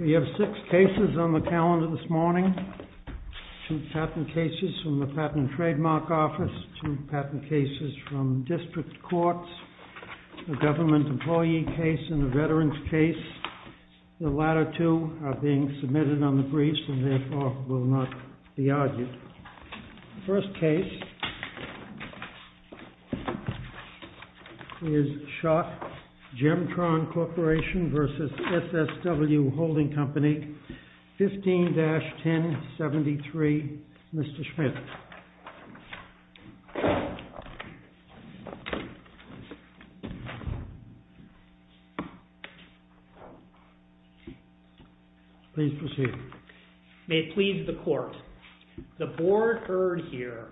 We have six cases on the calendar this morning, two patent cases from the Patent and Trademark Office, two patent cases from District Courts, a government employee case and a veteran's case. The latter two are being submitted on the briefs and therefore will not be argued. The first case is Schott Gemtron Corporation v. SSW Holding Company, 15-1073. Mr. Schmidt. Please proceed. May it please the Court, the Board heard here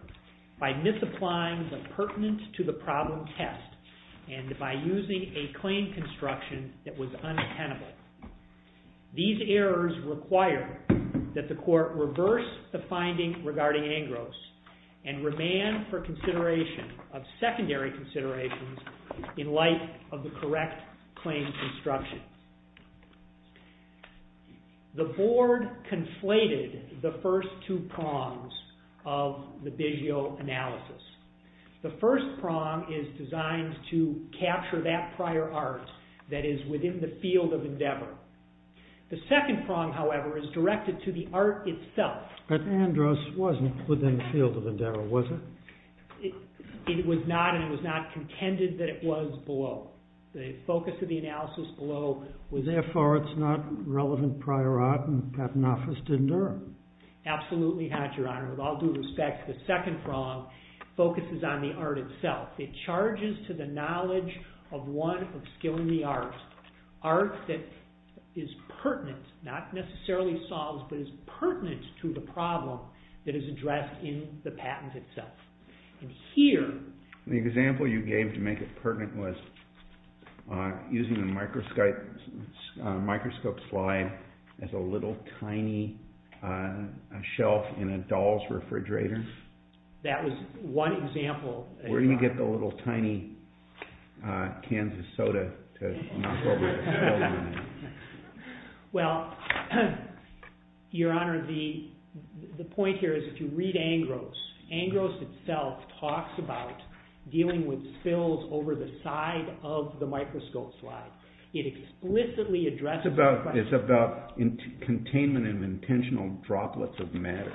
by misapplying the pertinent to the problem test and by using a claim construction that was unattainable. These errors require that the Court reverse the finding regarding Angros and remand for consideration of secondary considerations in light of the correct claim construction. The Board conflated the first two prongs of the Bigeo analysis. The first prong is designed to capture that prior art that is within the field of endeavor. The second prong, however, is directed to the art itself. But Angros wasn't within the field of endeavor, was it? It was not and it was not contended that it was below. The focus of the analysis below was therefore it's not relevant prior art and the Patent Office didn't err. Absolutely not, Your Honor. With all due respect, the second prong focuses on the art itself. It charges to the knowledge of one of skill in the arts. Art that is pertinent, not necessarily solves, but is pertinent to the problem that is addressed in the patent itself. Here... The example you gave to make it pertinent was using a microscope slide as a little tiny shelf in a doll's refrigerator. That was one example. Where do you get the little tiny cans of soda to knock over a spill? Well, Your Honor, the point here is if you read Angros, Angros itself talks about dealing with spills over the side of the microscope slide. It explicitly addresses... It's about containment of intentional droplets of matter.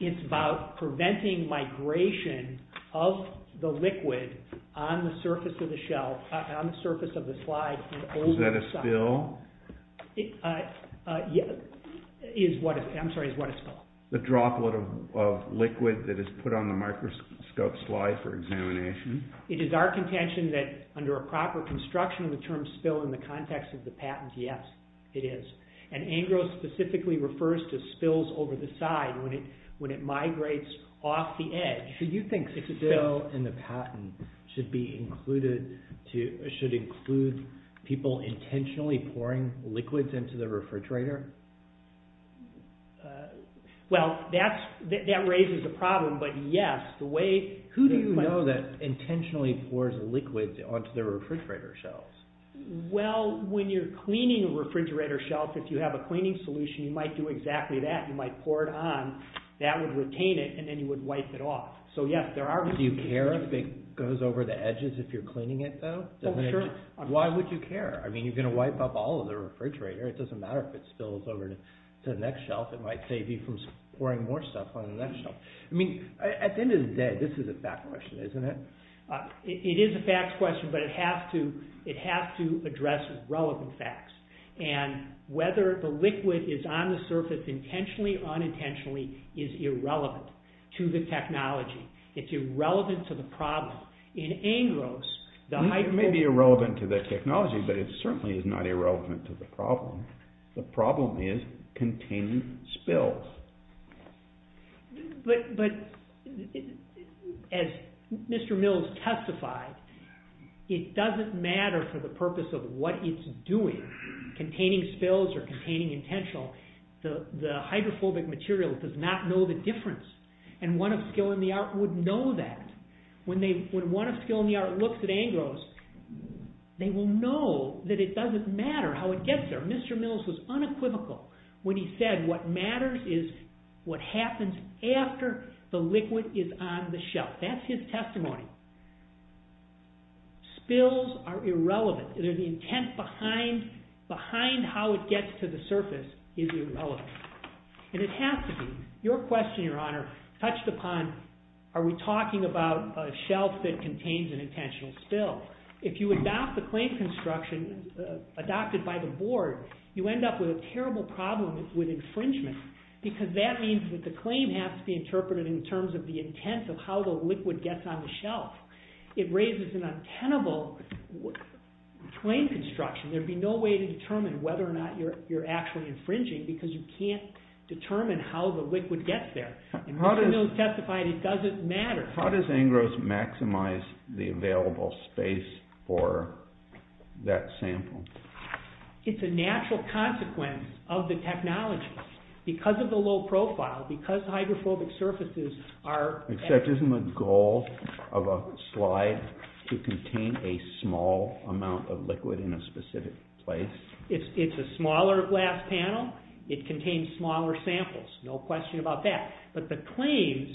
It's about preventing migration of the liquid on the surface of the shelf, on the surface of the slide and over... Is that a spill? I'm sorry, is what a spill? The droplet of liquid that is put on the microscope slide for examination. It is our contention that under a proper construction of the term spill in the context of the patent, yes, it is. And Angros specifically refers to spills over the side when it migrates off the edge. So you think a spill in the patent should include people intentionally pouring liquids into the refrigerator? Well, that raises a problem, but yes, the way... Who do you know that intentionally pours liquids onto the refrigerator shelves? Well, when you're cleaning a refrigerator shelf, if you have a cleaning solution, you might do exactly that. You might pour it on. That would retain it, and then you would wipe it off. So yes, there are... Do you care if it goes over the edges if you're cleaning it, though? Oh, sure. Why would you care? I mean, you're going to wipe up all of the refrigerator. It doesn't matter if it spills over to the next shelf. It might save you from pouring more stuff on the next shelf. I mean, at the it has to address relevant facts, and whether the liquid is on the surface intentionally or unintentionally is irrelevant to the technology. It's irrelevant to the problem. In Angros, the high... It may be irrelevant to the technology, but it certainly is not irrelevant to the purpose of what it's doing, containing spills or containing intentional. The hydrophobic material does not know the difference, and one of skill in the art would know that. When one of skill in the art looks at Angros, they will know that it doesn't matter how it gets there. Mr. Mills was unequivocal when he said what matters is what happens after the liquid is on the shelf. That's his testimony. Spills are irrelevant. The intent behind how it gets to the surface is irrelevant, and it has to be. Your question, Your Honor, touched upon are we talking about a shelf that contains an intentional spill? If you adopt the claim construction, adopted by the board, you end up with a terrible problem with infringement because that means that the claim has to be interpreted in terms of the intent of how the liquid gets on the shelf. It raises an untenable claim construction. There would be no way to determine whether or not you're actually infringing because you can't determine how the liquid gets there. Mr. Mills testified it doesn't matter. How does Angros maximize the available space for that sample? It's a natural consequence of the technology. Because of the low profile, because hydrophobic surfaces are… Except isn't the goal of a slide to contain a small amount of liquid in a specific place? It's a smaller glass panel. It contains smaller samples. No question about that. But the claims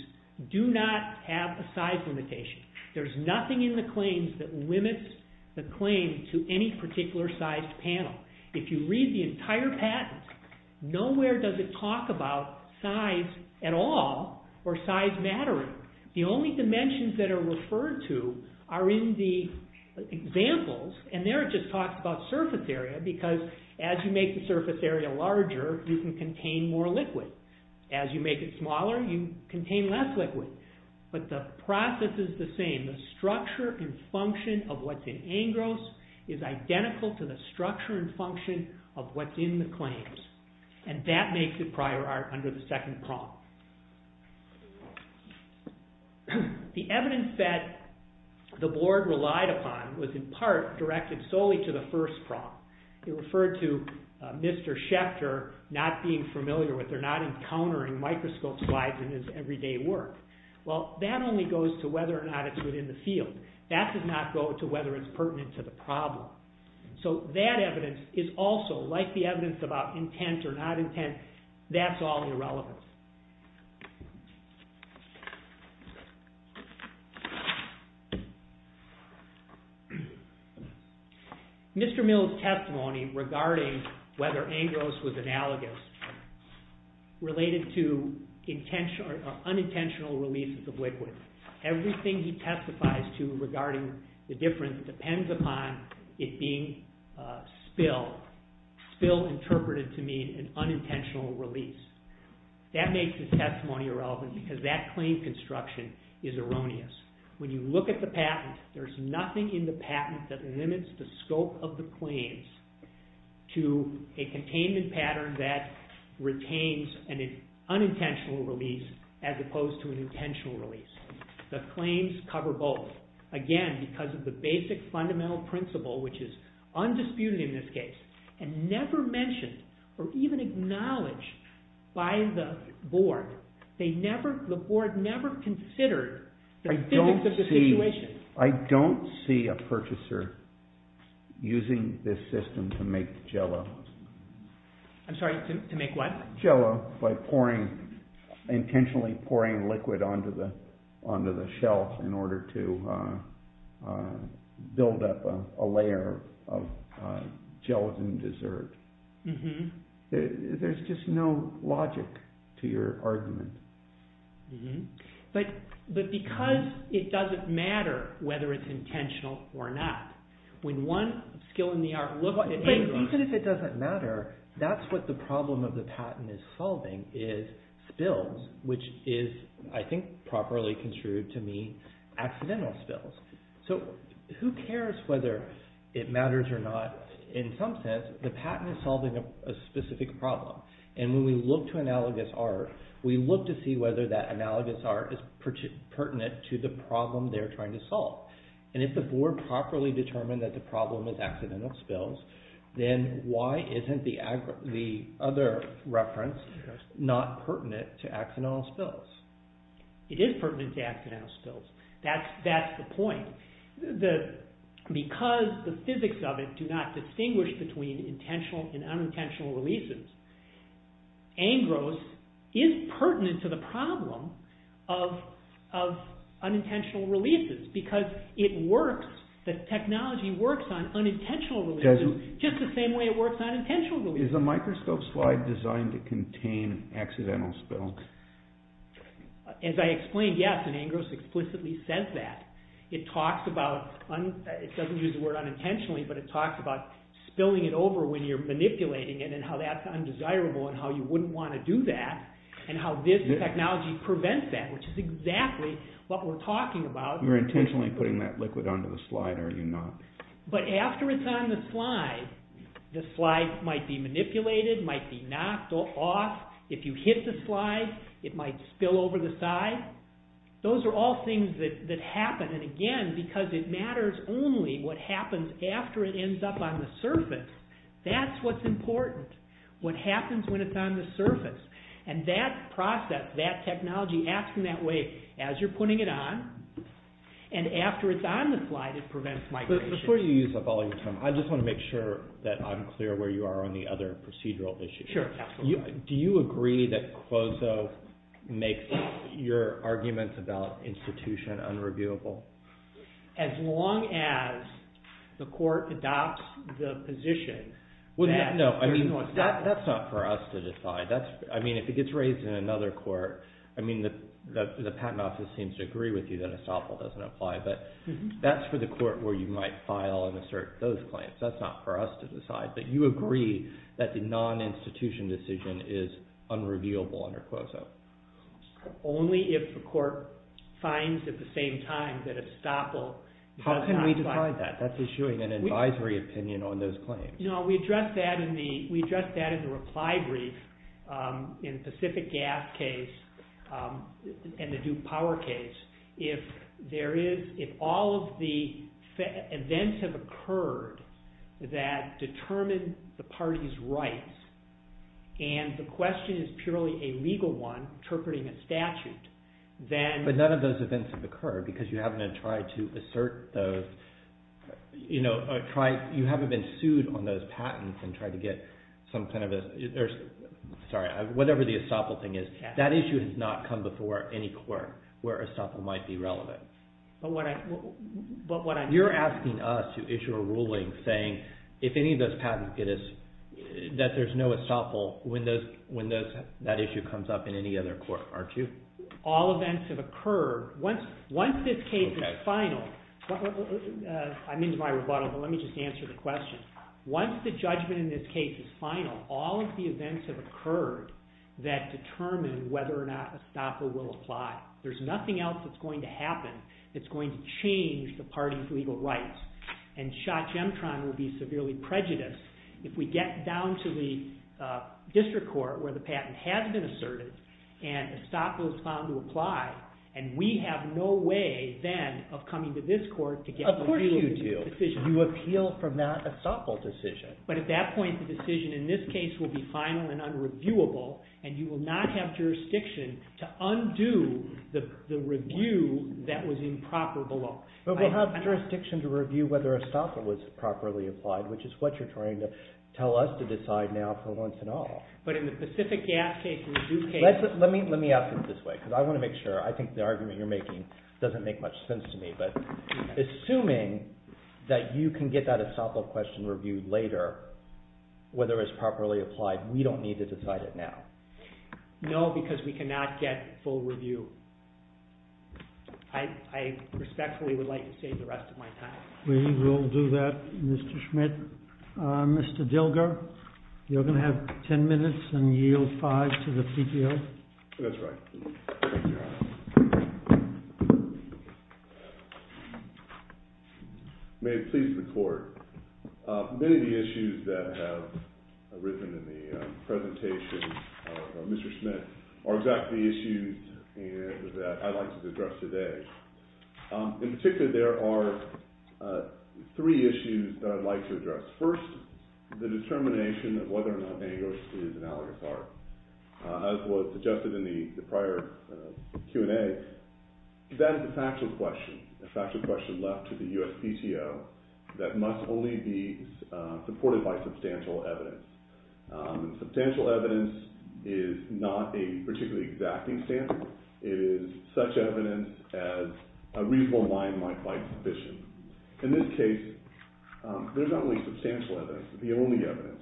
do not have a size limitation. There's nothing in the claims that limits the claim to any particular size panel. If you read the entire patent, nowhere does it talk about size at all or size mattering. The only dimensions that are referred to are in the examples, and there it just talks about surface area because as you make the surface area larger, you can contain more liquid. As you make it smaller, you contain less liquid. But the process is the same. The structure and function of what's in Angros is identical to the structure and function of what's in the claims, and that makes it prior art under the second prong. The evidence that the board relied upon was in part directed solely to the first prong. It referred to Mr. Schechter not being familiar with or not encountering microscope slides in his everyday work. Well, that only goes to whether or not it's within the field. That does not go to whether it's pertinent to the problem. So that evidence is also, like the evidence about intent or not intent, that's all irrelevant. Mr. Mill's testimony regarding whether Angros was analogous related to unintentional releases of liquid. Everything he testifies to regarding the difference depends upon it being spill, spill interpreted to mean an unintentional release. That makes his testimony irrelevant because that claim construction is erroneous. When you look at the patent, there's nothing in the patent that limits the scope of the claims to a containment pattern that retains an unintentional release as opposed to an intentional release. The claims cover both, again because of the basic fundamental principle which is undisputed in this case and never mentioned or even acknowledged by the board. The board never considered the physics of the situation. I don't see a purchaser using this system to make Jell-O. I'm sorry, to make what? Jell-O by intentionally pouring liquid onto the shelf in order to build up a layer of gelatin dessert. There's just no logic to your argument. But because it doesn't matter whether it's intentional or not, when one skill in the art, look at Angros. Even if it doesn't matter, that's what the problem of the patent is solving is spills, which is I think properly construed to mean accidental spills. Who cares whether it matters or not? In some sense, the patent is solving a specific problem. When we look to analogous art, we look to see whether that analogous art is pertinent to the problem they're trying to solve. If the board properly determined that the problem is accidental spills, then why isn't the other reference not pertinent to accidental spills? It is pertinent to accidental spills. That's the point. Because the physics of it do not distinguish between intentional and unintentional releases, Angros is pertinent to the problem of unintentional releases because it works, the technology works on unintentional releases just the same way it works on intentional releases. Is the microscope slide designed to contain accidental spills? As I explained, yes, and Angros explicitly says that. It talks about, it doesn't use the word unintentionally, but it talks about spilling it over when you're manipulating it and how that's undesirable and how you wouldn't want to do that and how this technology prevents that, which is exactly what we're talking about. You're intentionally putting that liquid onto the slide, are you not? But after it's on the slide, the slide might be manipulated, might be knocked off. If you hit the slide, it might spill over the side. Those are all things that happen, and again, because it matters only what happens after it ends up on the surface, that's what's important, what happens when it's on the surface. And that process, that technology, acting that way as you're putting it on, and after it's on the slide, it prevents migration. Before you use up all your time, I just want to make sure that I'm clear where you are on the other procedural issues. Sure, absolutely. Do you agree that COSO makes your arguments about institution unreviewable? As long as the court adopts the position that there's no assumption. No, I mean, that's not for us to decide. I mean, if it gets raised in another court, I mean, the patent office seems to agree with you that estoppel doesn't apply, but that's for the court where you might file and assert those claims. That's not for us to decide. But you agree that the non-institution decision is unreviewable under COSO? Only if the court finds at the same time that estoppel does not apply. How can we decide that? That's issuing an advisory opinion on those claims. No, we address that in the reply brief in the Pacific Gas case and the Duke Power case. If all of the events have occurred that determine the party's rights and the question is purely a legal one, interpreting a statute, then... But none of those events have occurred because you haven't been sued on those patents and tried to get some kind of a... Sorry, whatever the estoppel thing is, that issue has not come before any court where estoppel might be relevant. But what I'm... You're asking us to issue a ruling saying if any of those patents, that there's no estoppel when that issue comes up in any other court, aren't you? All events have occurred. Once this case is final... I'm into my rebuttal, but let me just answer the question. Once the judgment in this case is final, all of the events have There's nothing else that's going to happen that's going to change the party's legal rights. And Schott-Gemtron would be severely prejudiced if we get down to the district court where the patent has been asserted and estoppel is found to apply, and we have no way then of coming to this court to get... Of course you do. You appeal from that estoppel decision. But at that point, the decision in this case will be final and unreviewable, and you will not have jurisdiction to undo the review that was improper below. But we'll have jurisdiction to review whether estoppel was properly applied, which is what you're trying to tell us to decide now for once and all. But in the Pacific Gas case, we do care. Let me ask it this way, because I want to make sure. I think the argument you're making doesn't make much sense to me, but assuming that you can get that estoppel question reviewed later, whether it's properly applied, we don't need to decide it now. No, because we cannot get full review. I respectfully would like to save the rest of my time. We will do that, Mr. Schmidt. Mr. Dilger, you're going to have ten minutes and yield five to the CTO. That's right. Thank you. May it please the Court. Many of the issues that have arisen in the presentation of Mr. Schmidt are exactly the issues that I'd like to address today. In particular, there are three issues that I'd like to address. First, the determination of whether or not dangerous is analogous art. As was suggested in the prior Q&A, that is a factual question, a factual question left to the USPTO that must only be supported by substantial evidence. Substantial evidence is not a particularly exacting standard. It is such evidence as a reasonable line might find sufficient. In this case, there's not really substantial evidence, the only evidence.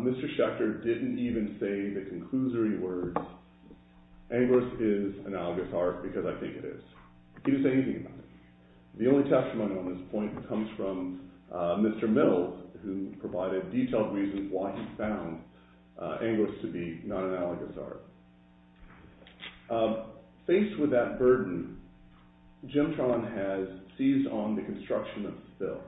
Mr. Schechter didn't even say the conclusory words, Angoris is analogous art, because I think it is. He didn't say anything about it. The only testimony on this point comes from Mr. Mill, who provided detailed reasons why he found Angoris to be non-analogous art. Faced with that burden, Gemtron has seized on the construction of spill.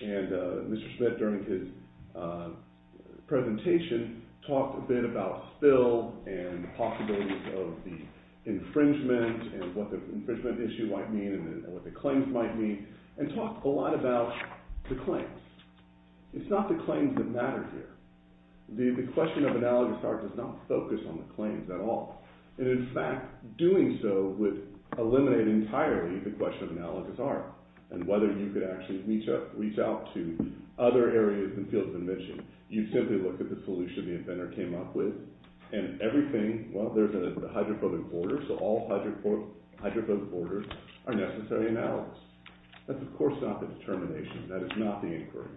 And Mr. Schmidt, during his presentation, talked a bit about spill and the possibilities of the infringement and what the infringement issue might mean and what the claims might mean, and talked a lot about the claims. It's not the claims that matter here. The question of analogous art does not focus on the claims at all. And in fact, doing so would eliminate entirely the question of analogous art and whether you could actually reach out to other areas and fields of invention. You simply look at the solution the inventor came up with, and everything, well, there's a hydrophobic border, so all hydrophobic borders are necessary analogous. That's of course not the determination. That is not the inquiry.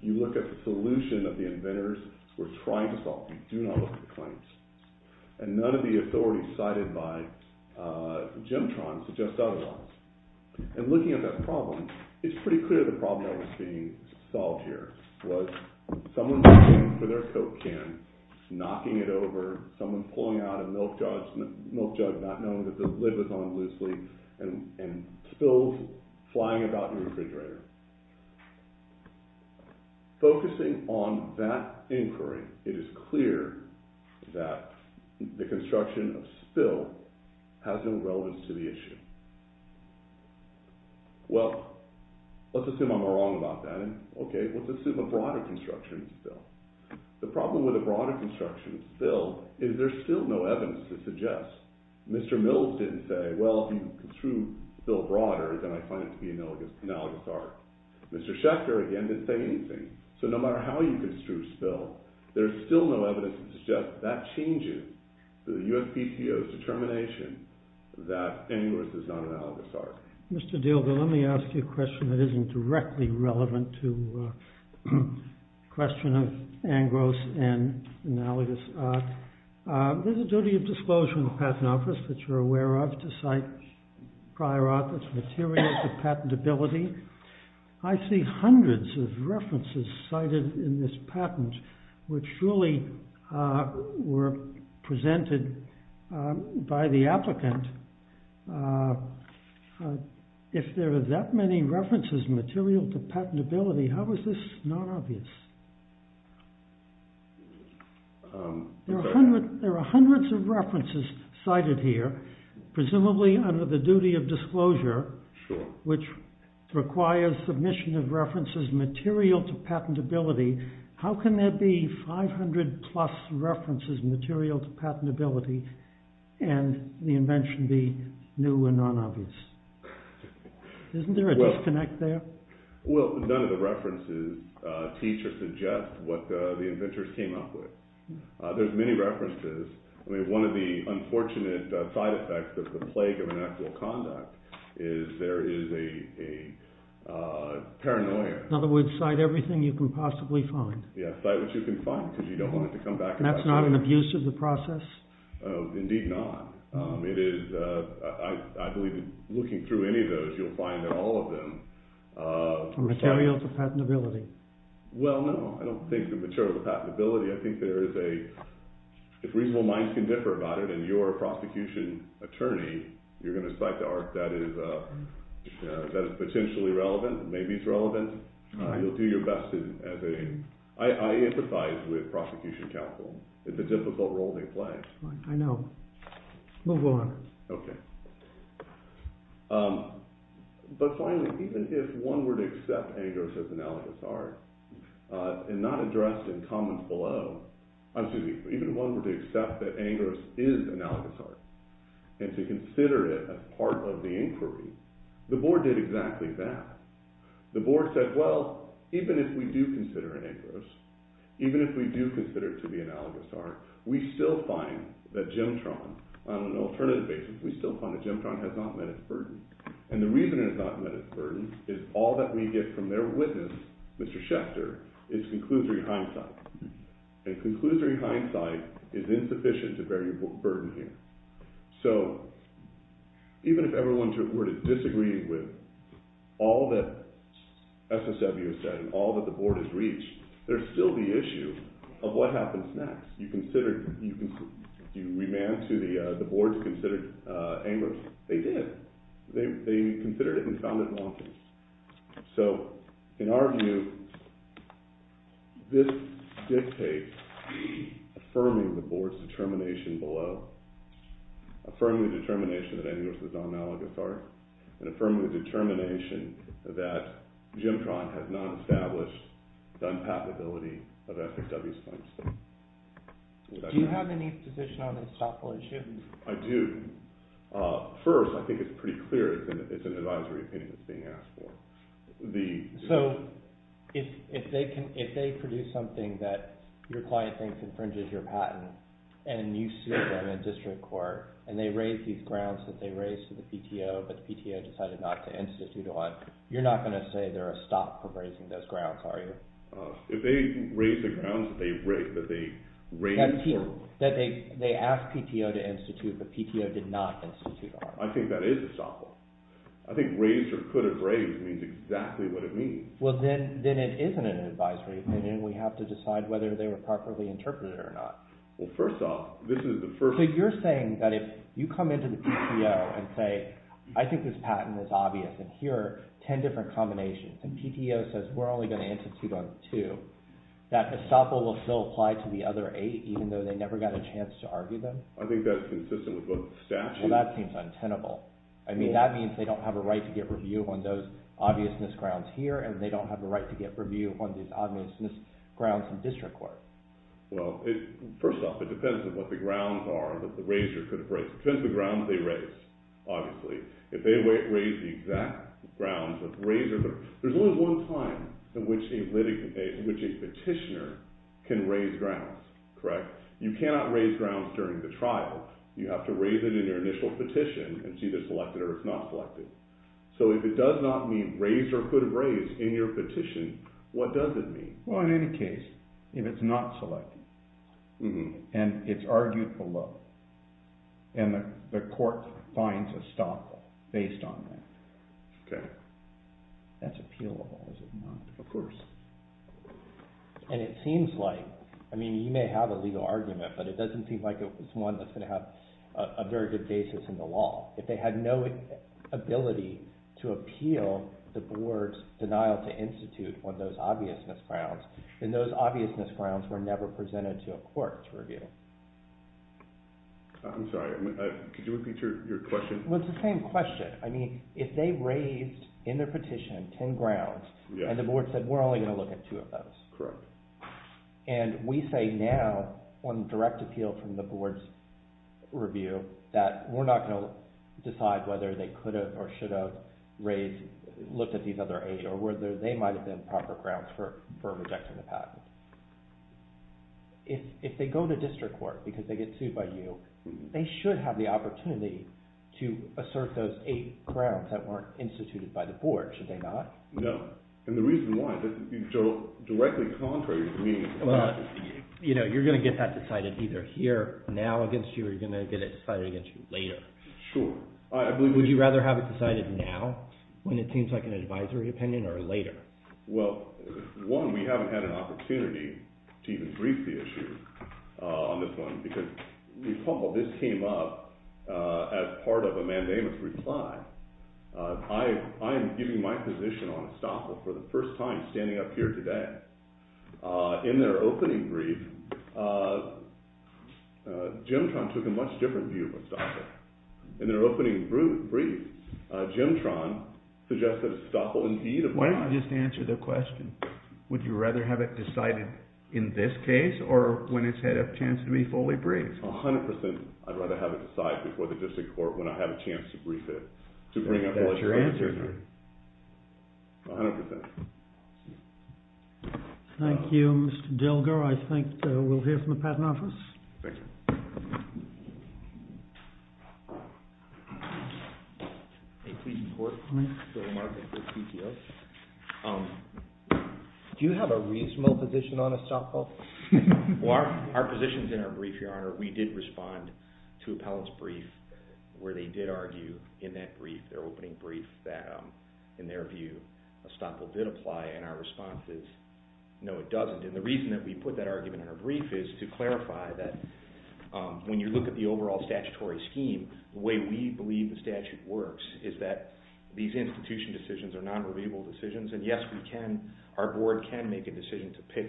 You look at the solution that the inventors were trying to solve. You do not look at the claims. And none of the authorities cited by Gemtron suggest otherwise. And looking at that problem, it's pretty clear the problem that was being solved here was someone coming in with their Coke can, knocking it over, someone pulling out a milk jug not knowing that the lid was on loosely, and spills flying about your refrigerator. Focusing on that inquiry, it is clear that the construction of spill has no relevance to the issue. Well, let's assume I'm wrong about that. Okay, let's assume a broader construction of spill. The problem with a broader construction of spill is there's still no evidence to suggest. Mr. Mills didn't say, well, if you construe spill broader, then I find it to be an analogous arc. Mr. Schechter, again, didn't say anything. So no matter how you construe spill, there's still no evidence to suggest that that changes the USPTO's determination that annuus is not an analogous arc. Mr. Diehl, let me ask you a question that isn't directly relevant to the question of angros and analogous arc. There's a duty of disclosure in the patent office that you're aware of to cite prior authors' materials of patentability. I see hundreds of references cited in this patent, which truly were presented by the patent office. If there are that many references material to patentability, how is this non-obvious? There are hundreds of references cited here, presumably under the duty of disclosure, which requires submission of references material to patentability. How can there be 500 plus references material to patentability and the invention be new and non-obvious? Isn't there a disconnect there? Well, none of the references teach or suggest what the inventors came up with. There's many references. I mean, one of the unfortunate side effects of the plague of inactual conduct is there is a paranoia. In other words, cite everything you can possibly find. Yes, cite what you can find because you don't want it to come back. And that's not an abuse of the process? Indeed not. I believe that looking through any of those, you'll find that all of them... Are materials of patentability? Well, no. I don't think they're materials of patentability. I think there is a... If reasonable minds can differ about it and you're a prosecution attorney, you're going to cite the art that is potentially relevant, maybe it's relevant. You'll do your best as a... I empathize with prosecution counsel. It's a difficult role they play. I know. Move on. Okay. But finally, even if one were to accept Angros as analogous art, and not addressed in comments below, even if one were to accept that Angros is analogous art, and to consider it as part of the inquiry, the board did exactly that. The board said, well, even if we do consider it Angros, even if we do consider it to be a gemtron on an alternative basis, we still find that gemtron has not met its burden. And the reason it has not met its burden is all that we get from their witness, Mr. Schechter, is conclusory hindsight. And conclusory hindsight is insufficient to bear your burden here. So even if everyone were to disagree with all that SSW has said and all that the board has reached, there's still the issue of what happens next. Do you remand to the board to consider Angros? They did. They considered it and found it wrong. So in our view, this dictates affirming the board's determination below, affirming the determination that Angros is not analogous art, and affirming the determination that Do you have any position on this topical issue? I do. First, I think it's pretty clear it's an advisory opinion that's being asked for. So if they produce something that your client thinks infringes your patent, and you sue them in district court, and they raise these grounds that they raised to the PTO, but the PTO decided not to institute on, you're not going to say they're a stop from raising those grounds, are you? If they raise the grounds that they raised... That they asked PTO to institute, but PTO did not institute on. I think that is a stop. I think raised or could have raised means exactly what it means. Well, then it isn't an advisory opinion. We have to decide whether they were properly interpreted or not. Well, first off, this is the first... So you're saying that if you come into the PTO and say, I think this patent is obvious, and here are 10 different combinations, and PTO says we're only going to institute on two, that estoppel will still apply to the other eight even though they never got a chance to argue them? I think that's consistent with both statutes... Well, that seems untenable. I mean, that means they don't have a right to get review on those obviousness grounds here, and they don't have a right to get review on these obviousness grounds in district court. Well, first off, it depends on what the grounds are that the raiser could have raised. Depends on the grounds they raised, obviously. If they raised the exact grounds that the raiser... There's only one time in which a petitioner can raise grounds, correct? You cannot raise grounds during the trial. You have to raise it in your initial petition, and it's either selected or it's not selected. So if it does not mean raised or could have raised in your petition, what does it mean? Well, in any case, if it's not selected, and it's argued below, and the court finds a stop, based on that, that's appealable. Is it not? Of course. And it seems like... I mean, you may have a legal argument, but it doesn't seem like it's one that's going to have a very good basis in the law. If they had no ability to appeal the board's denial to institute on those obviousness grounds, then those obviousness grounds were never presented to a court to review. I'm sorry. Could you repeat your question? Well, it's the same question. I mean, if they raised in their petition 10 grounds, and the board said, we're only going to look at two of those. Correct. And we say now, on direct appeal from the board's review, that we're not going to decide whether they could have or should have looked at these other eight, or whether they might have been proper grounds for rejecting the patent. If they go to district court because they get sued by you, they should have the opportunity to assert those eight grounds that weren't instituted by the board, should they not? No. And the reason why, directly contrary to me... Well, you're going to get that decided either here, now against you, or you're going to get it decided against you later. Sure. Would you rather have it decided now, when it seems like an advisory opinion, or later? Well, one, we haven't had an opportunity to even brief the issue on this one because this came up as part of a mandamus reply. I am giving my position on estoppel for the first time standing up here today. In their opening brief, Jimtron took a much different view of estoppel. In their opening brief, Jimtron suggested estoppel indeed... Why don't you just answer the question? Would you rather have it decided in this case, or when it's had a chance to be fully briefed? A hundred percent, I'd rather have it decided before the district court when I have a chance to brief it. That's your answer, then? A hundred percent. Thank you, Mr. Dilger. I think we'll hear from the patent office. Thank you. May it please the Court, please? Phil Lamarck of the CTO. Do you have a reasonable position on estoppel? Well, our position is in our brief, Your Honor. We did respond to appellants' brief where they did argue in that brief, their opening brief, that in their view estoppel did apply, and our response is no, it doesn't. And the reason that we put that argument in our brief is to clarify that when you look at the overall statutory scheme, the way we believe the statute works is that these institution decisions are non-reliable decisions, and yes, our board can make a decision to pick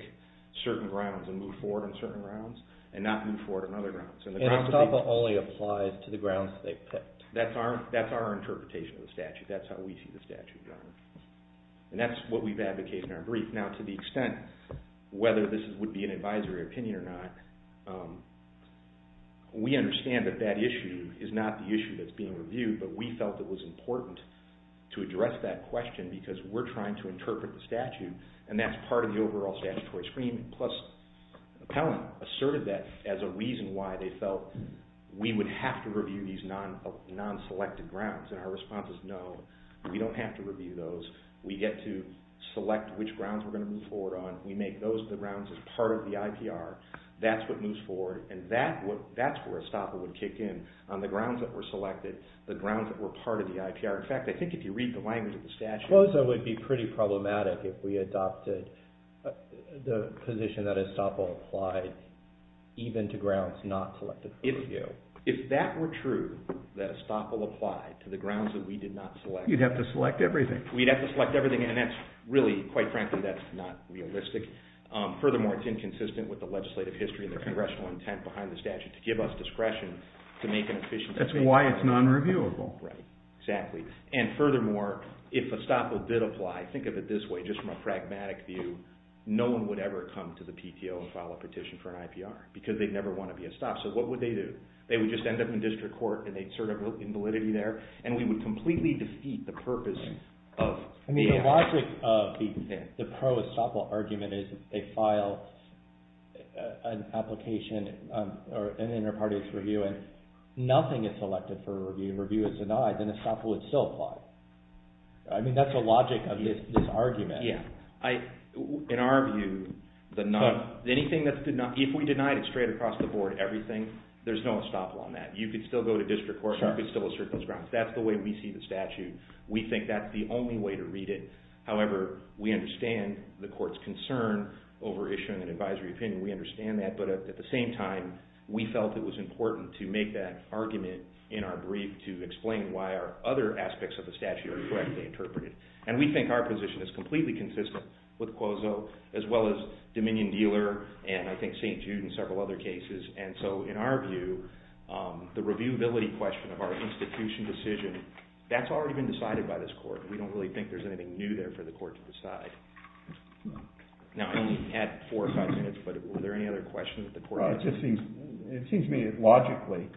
certain grounds and move forward on certain grounds, and not move forward on other grounds. Estoppel only applies to the grounds that they picked. That's our interpretation of the statute. That's how we see the statute, Your Honor. And that's what we've advocated in our brief. Now, to the extent whether this would be an advisory opinion or not, we understand that that issue is not the issue that's being reviewed, but we felt it was important to address that question because we're trying to interpret the statute, and that's part of the overall statutory scheme, plus an appellant asserted that as a reason why they felt we would have to review these non-selected grounds, and our response is no, we don't have to review those. We get to select which grounds we're going to move forward on. We make those the grounds as part of the IPR. That's what moves forward, and that's where Estoppel would kick in, on the grounds that were selected, the grounds that were part of the IPR. In fact, I think if you read the language of the statute— Closa would be pretty problematic if we adopted the position that Estoppel applied even to grounds not selected for review. If that were true, that Estoppel applied to the grounds that we did not select— You'd have to select everything. We'd have to select everything, and that's really, quite frankly, that's not realistic. Furthermore, it's inconsistent with the legislative history and the congressional intent behind the statute to give us discretion to make an efficient— That's why it's non-reviewable. Right, exactly. And furthermore, if Estoppel did apply, think of it this way, just from a pragmatic view, no one would ever come to the PTO and file a petition for an IPR because they'd never want to be Estoppel. So what would they do? They would just end up in district court, and they'd serve in validity there, and we would completely defeat the purpose of— I mean, the logic of the pro-Estoppel argument is they file an application or an inter partes review, and nothing is selected for review. Review is denied, then Estoppel would still apply. I mean, that's the logic of this argument. Yeah. In our view, if we denied it straight across the board, everything, there's no Estoppel on that. You could still go to district court. You could still assert those grounds. That's the way we see the statute. We think that's the only way to read it. However, we understand the court's concern over issuing an advisory opinion. We understand that. But at the same time, we felt it was important to make that argument in our brief to explain why our other aspects of the statute are correctly interpreted. And we think our position is completely consistent with Cuozzo, as well as Dominion-Dealer, and I think St. Jude and several other cases. And so, in our view, the reviewability question of our institution decision, that's already been decided by this court. We don't really think there's anything new there for the court to decide. Now, I only had four or five minutes, but were there any other questions that the court had? It seems to me, logically,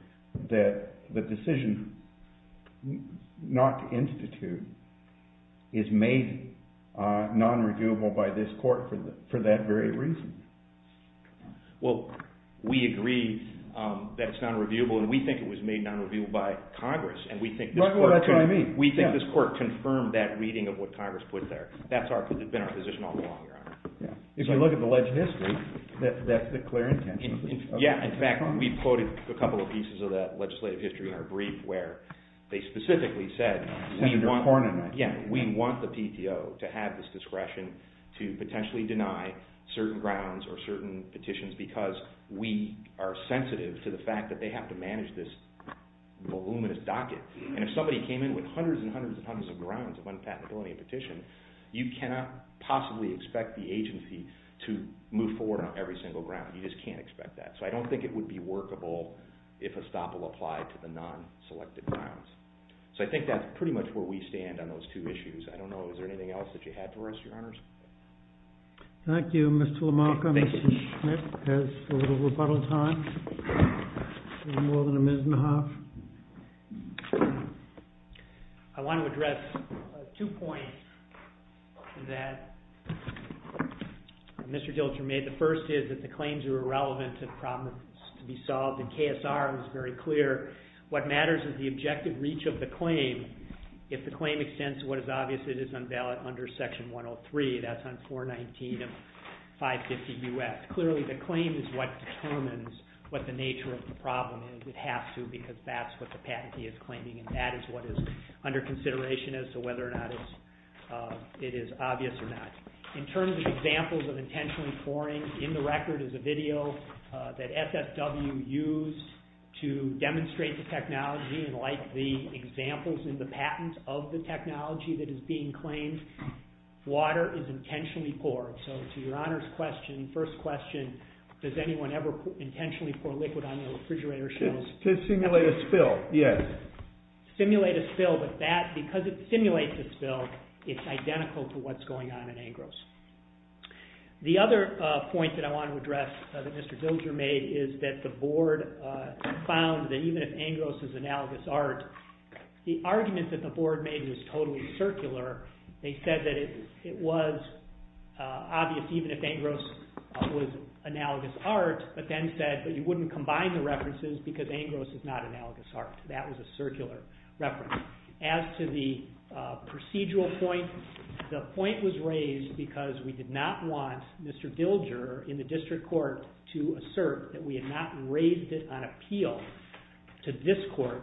that the decision not to institute is made non-reviewable by this court for that very reason. Well, we agree that it's non-reviewable, and we think it was made non-reviewable by Congress. And we think this court confirmed that reading of what Congress put there. That's been our position all along, Your Honor. If you look at the legitimacy, that's the clear intention. Yeah, in fact, we quoted a couple of pieces of that legislative history in our brief where they specifically said we want the PTO to have this discretion to potentially deny certain grounds or certain petitions because we are sensitive to the fact that they have to manage this voluminous docket. And if somebody came in with hundreds and hundreds and hundreds of grounds of unpatentability petition, you cannot possibly expect the agency to move forward on every single ground. You just can't expect that. So I don't think it would be workable if a stop will apply to the non-selected grounds. So I think that's pretty much where we stand on those two issues. I don't know. Is there anything else that you have for us, Your Honors? Thank you, Mr. LaMarcha. Mr. Schmidt has a little rebuttal time, a little more than a minute and a half. I want to address two points that Mr. Dilcher made. The first is that the claims are irrelevant and problems to be solved, and KSR was very clear. What matters is the objective reach of the claim. If the claim extends to what is obvious, it is unvalid under Section 103. That's on 419 of 550 U.S. Clearly, the claim is what determines what the nature of the problem is. It has to because that's what the patentee is claiming, and that is what is under consideration as to whether or not it is obvious or not. In terms of examples of intentional informing, in the record is a video that SSW used to demonstrate the technology and like the examples in the patent of the technology that is being claimed, water is intentionally poured. So to Your Honors' question, first question, does anyone ever intentionally pour liquid on the refrigerator shelves? To simulate a spill, yes. Simulate a spill, but because it simulates a spill, it's identical to what's going on in Angros. The other point that I want to address that Mr. Dilcher made is that the Board found that even if Angros is analogous art, the argument that the Board made was totally circular. They said that it was obvious even if Angros was analogous art, but then said that you wouldn't combine the references because Angros is not analogous art. That was a circular reference. As to the procedural point, the point was raised because we did not want Mr. Dilcher in the district court to assert that we had not raised it on appeal to this court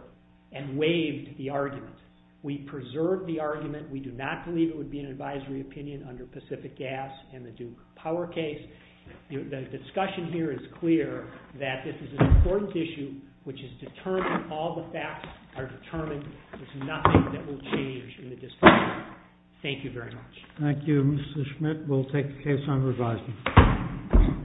and waived the argument. We preserved the argument. We do not believe it would be an advisory opinion under Pacific Gas and the Duke Power case. The discussion here is clear that this is an important issue which is determined, all the facts are determined. There's nothing that will change in the district court. Thank you very much. Thank you, Mr. Schmidt. We'll take the case on revising.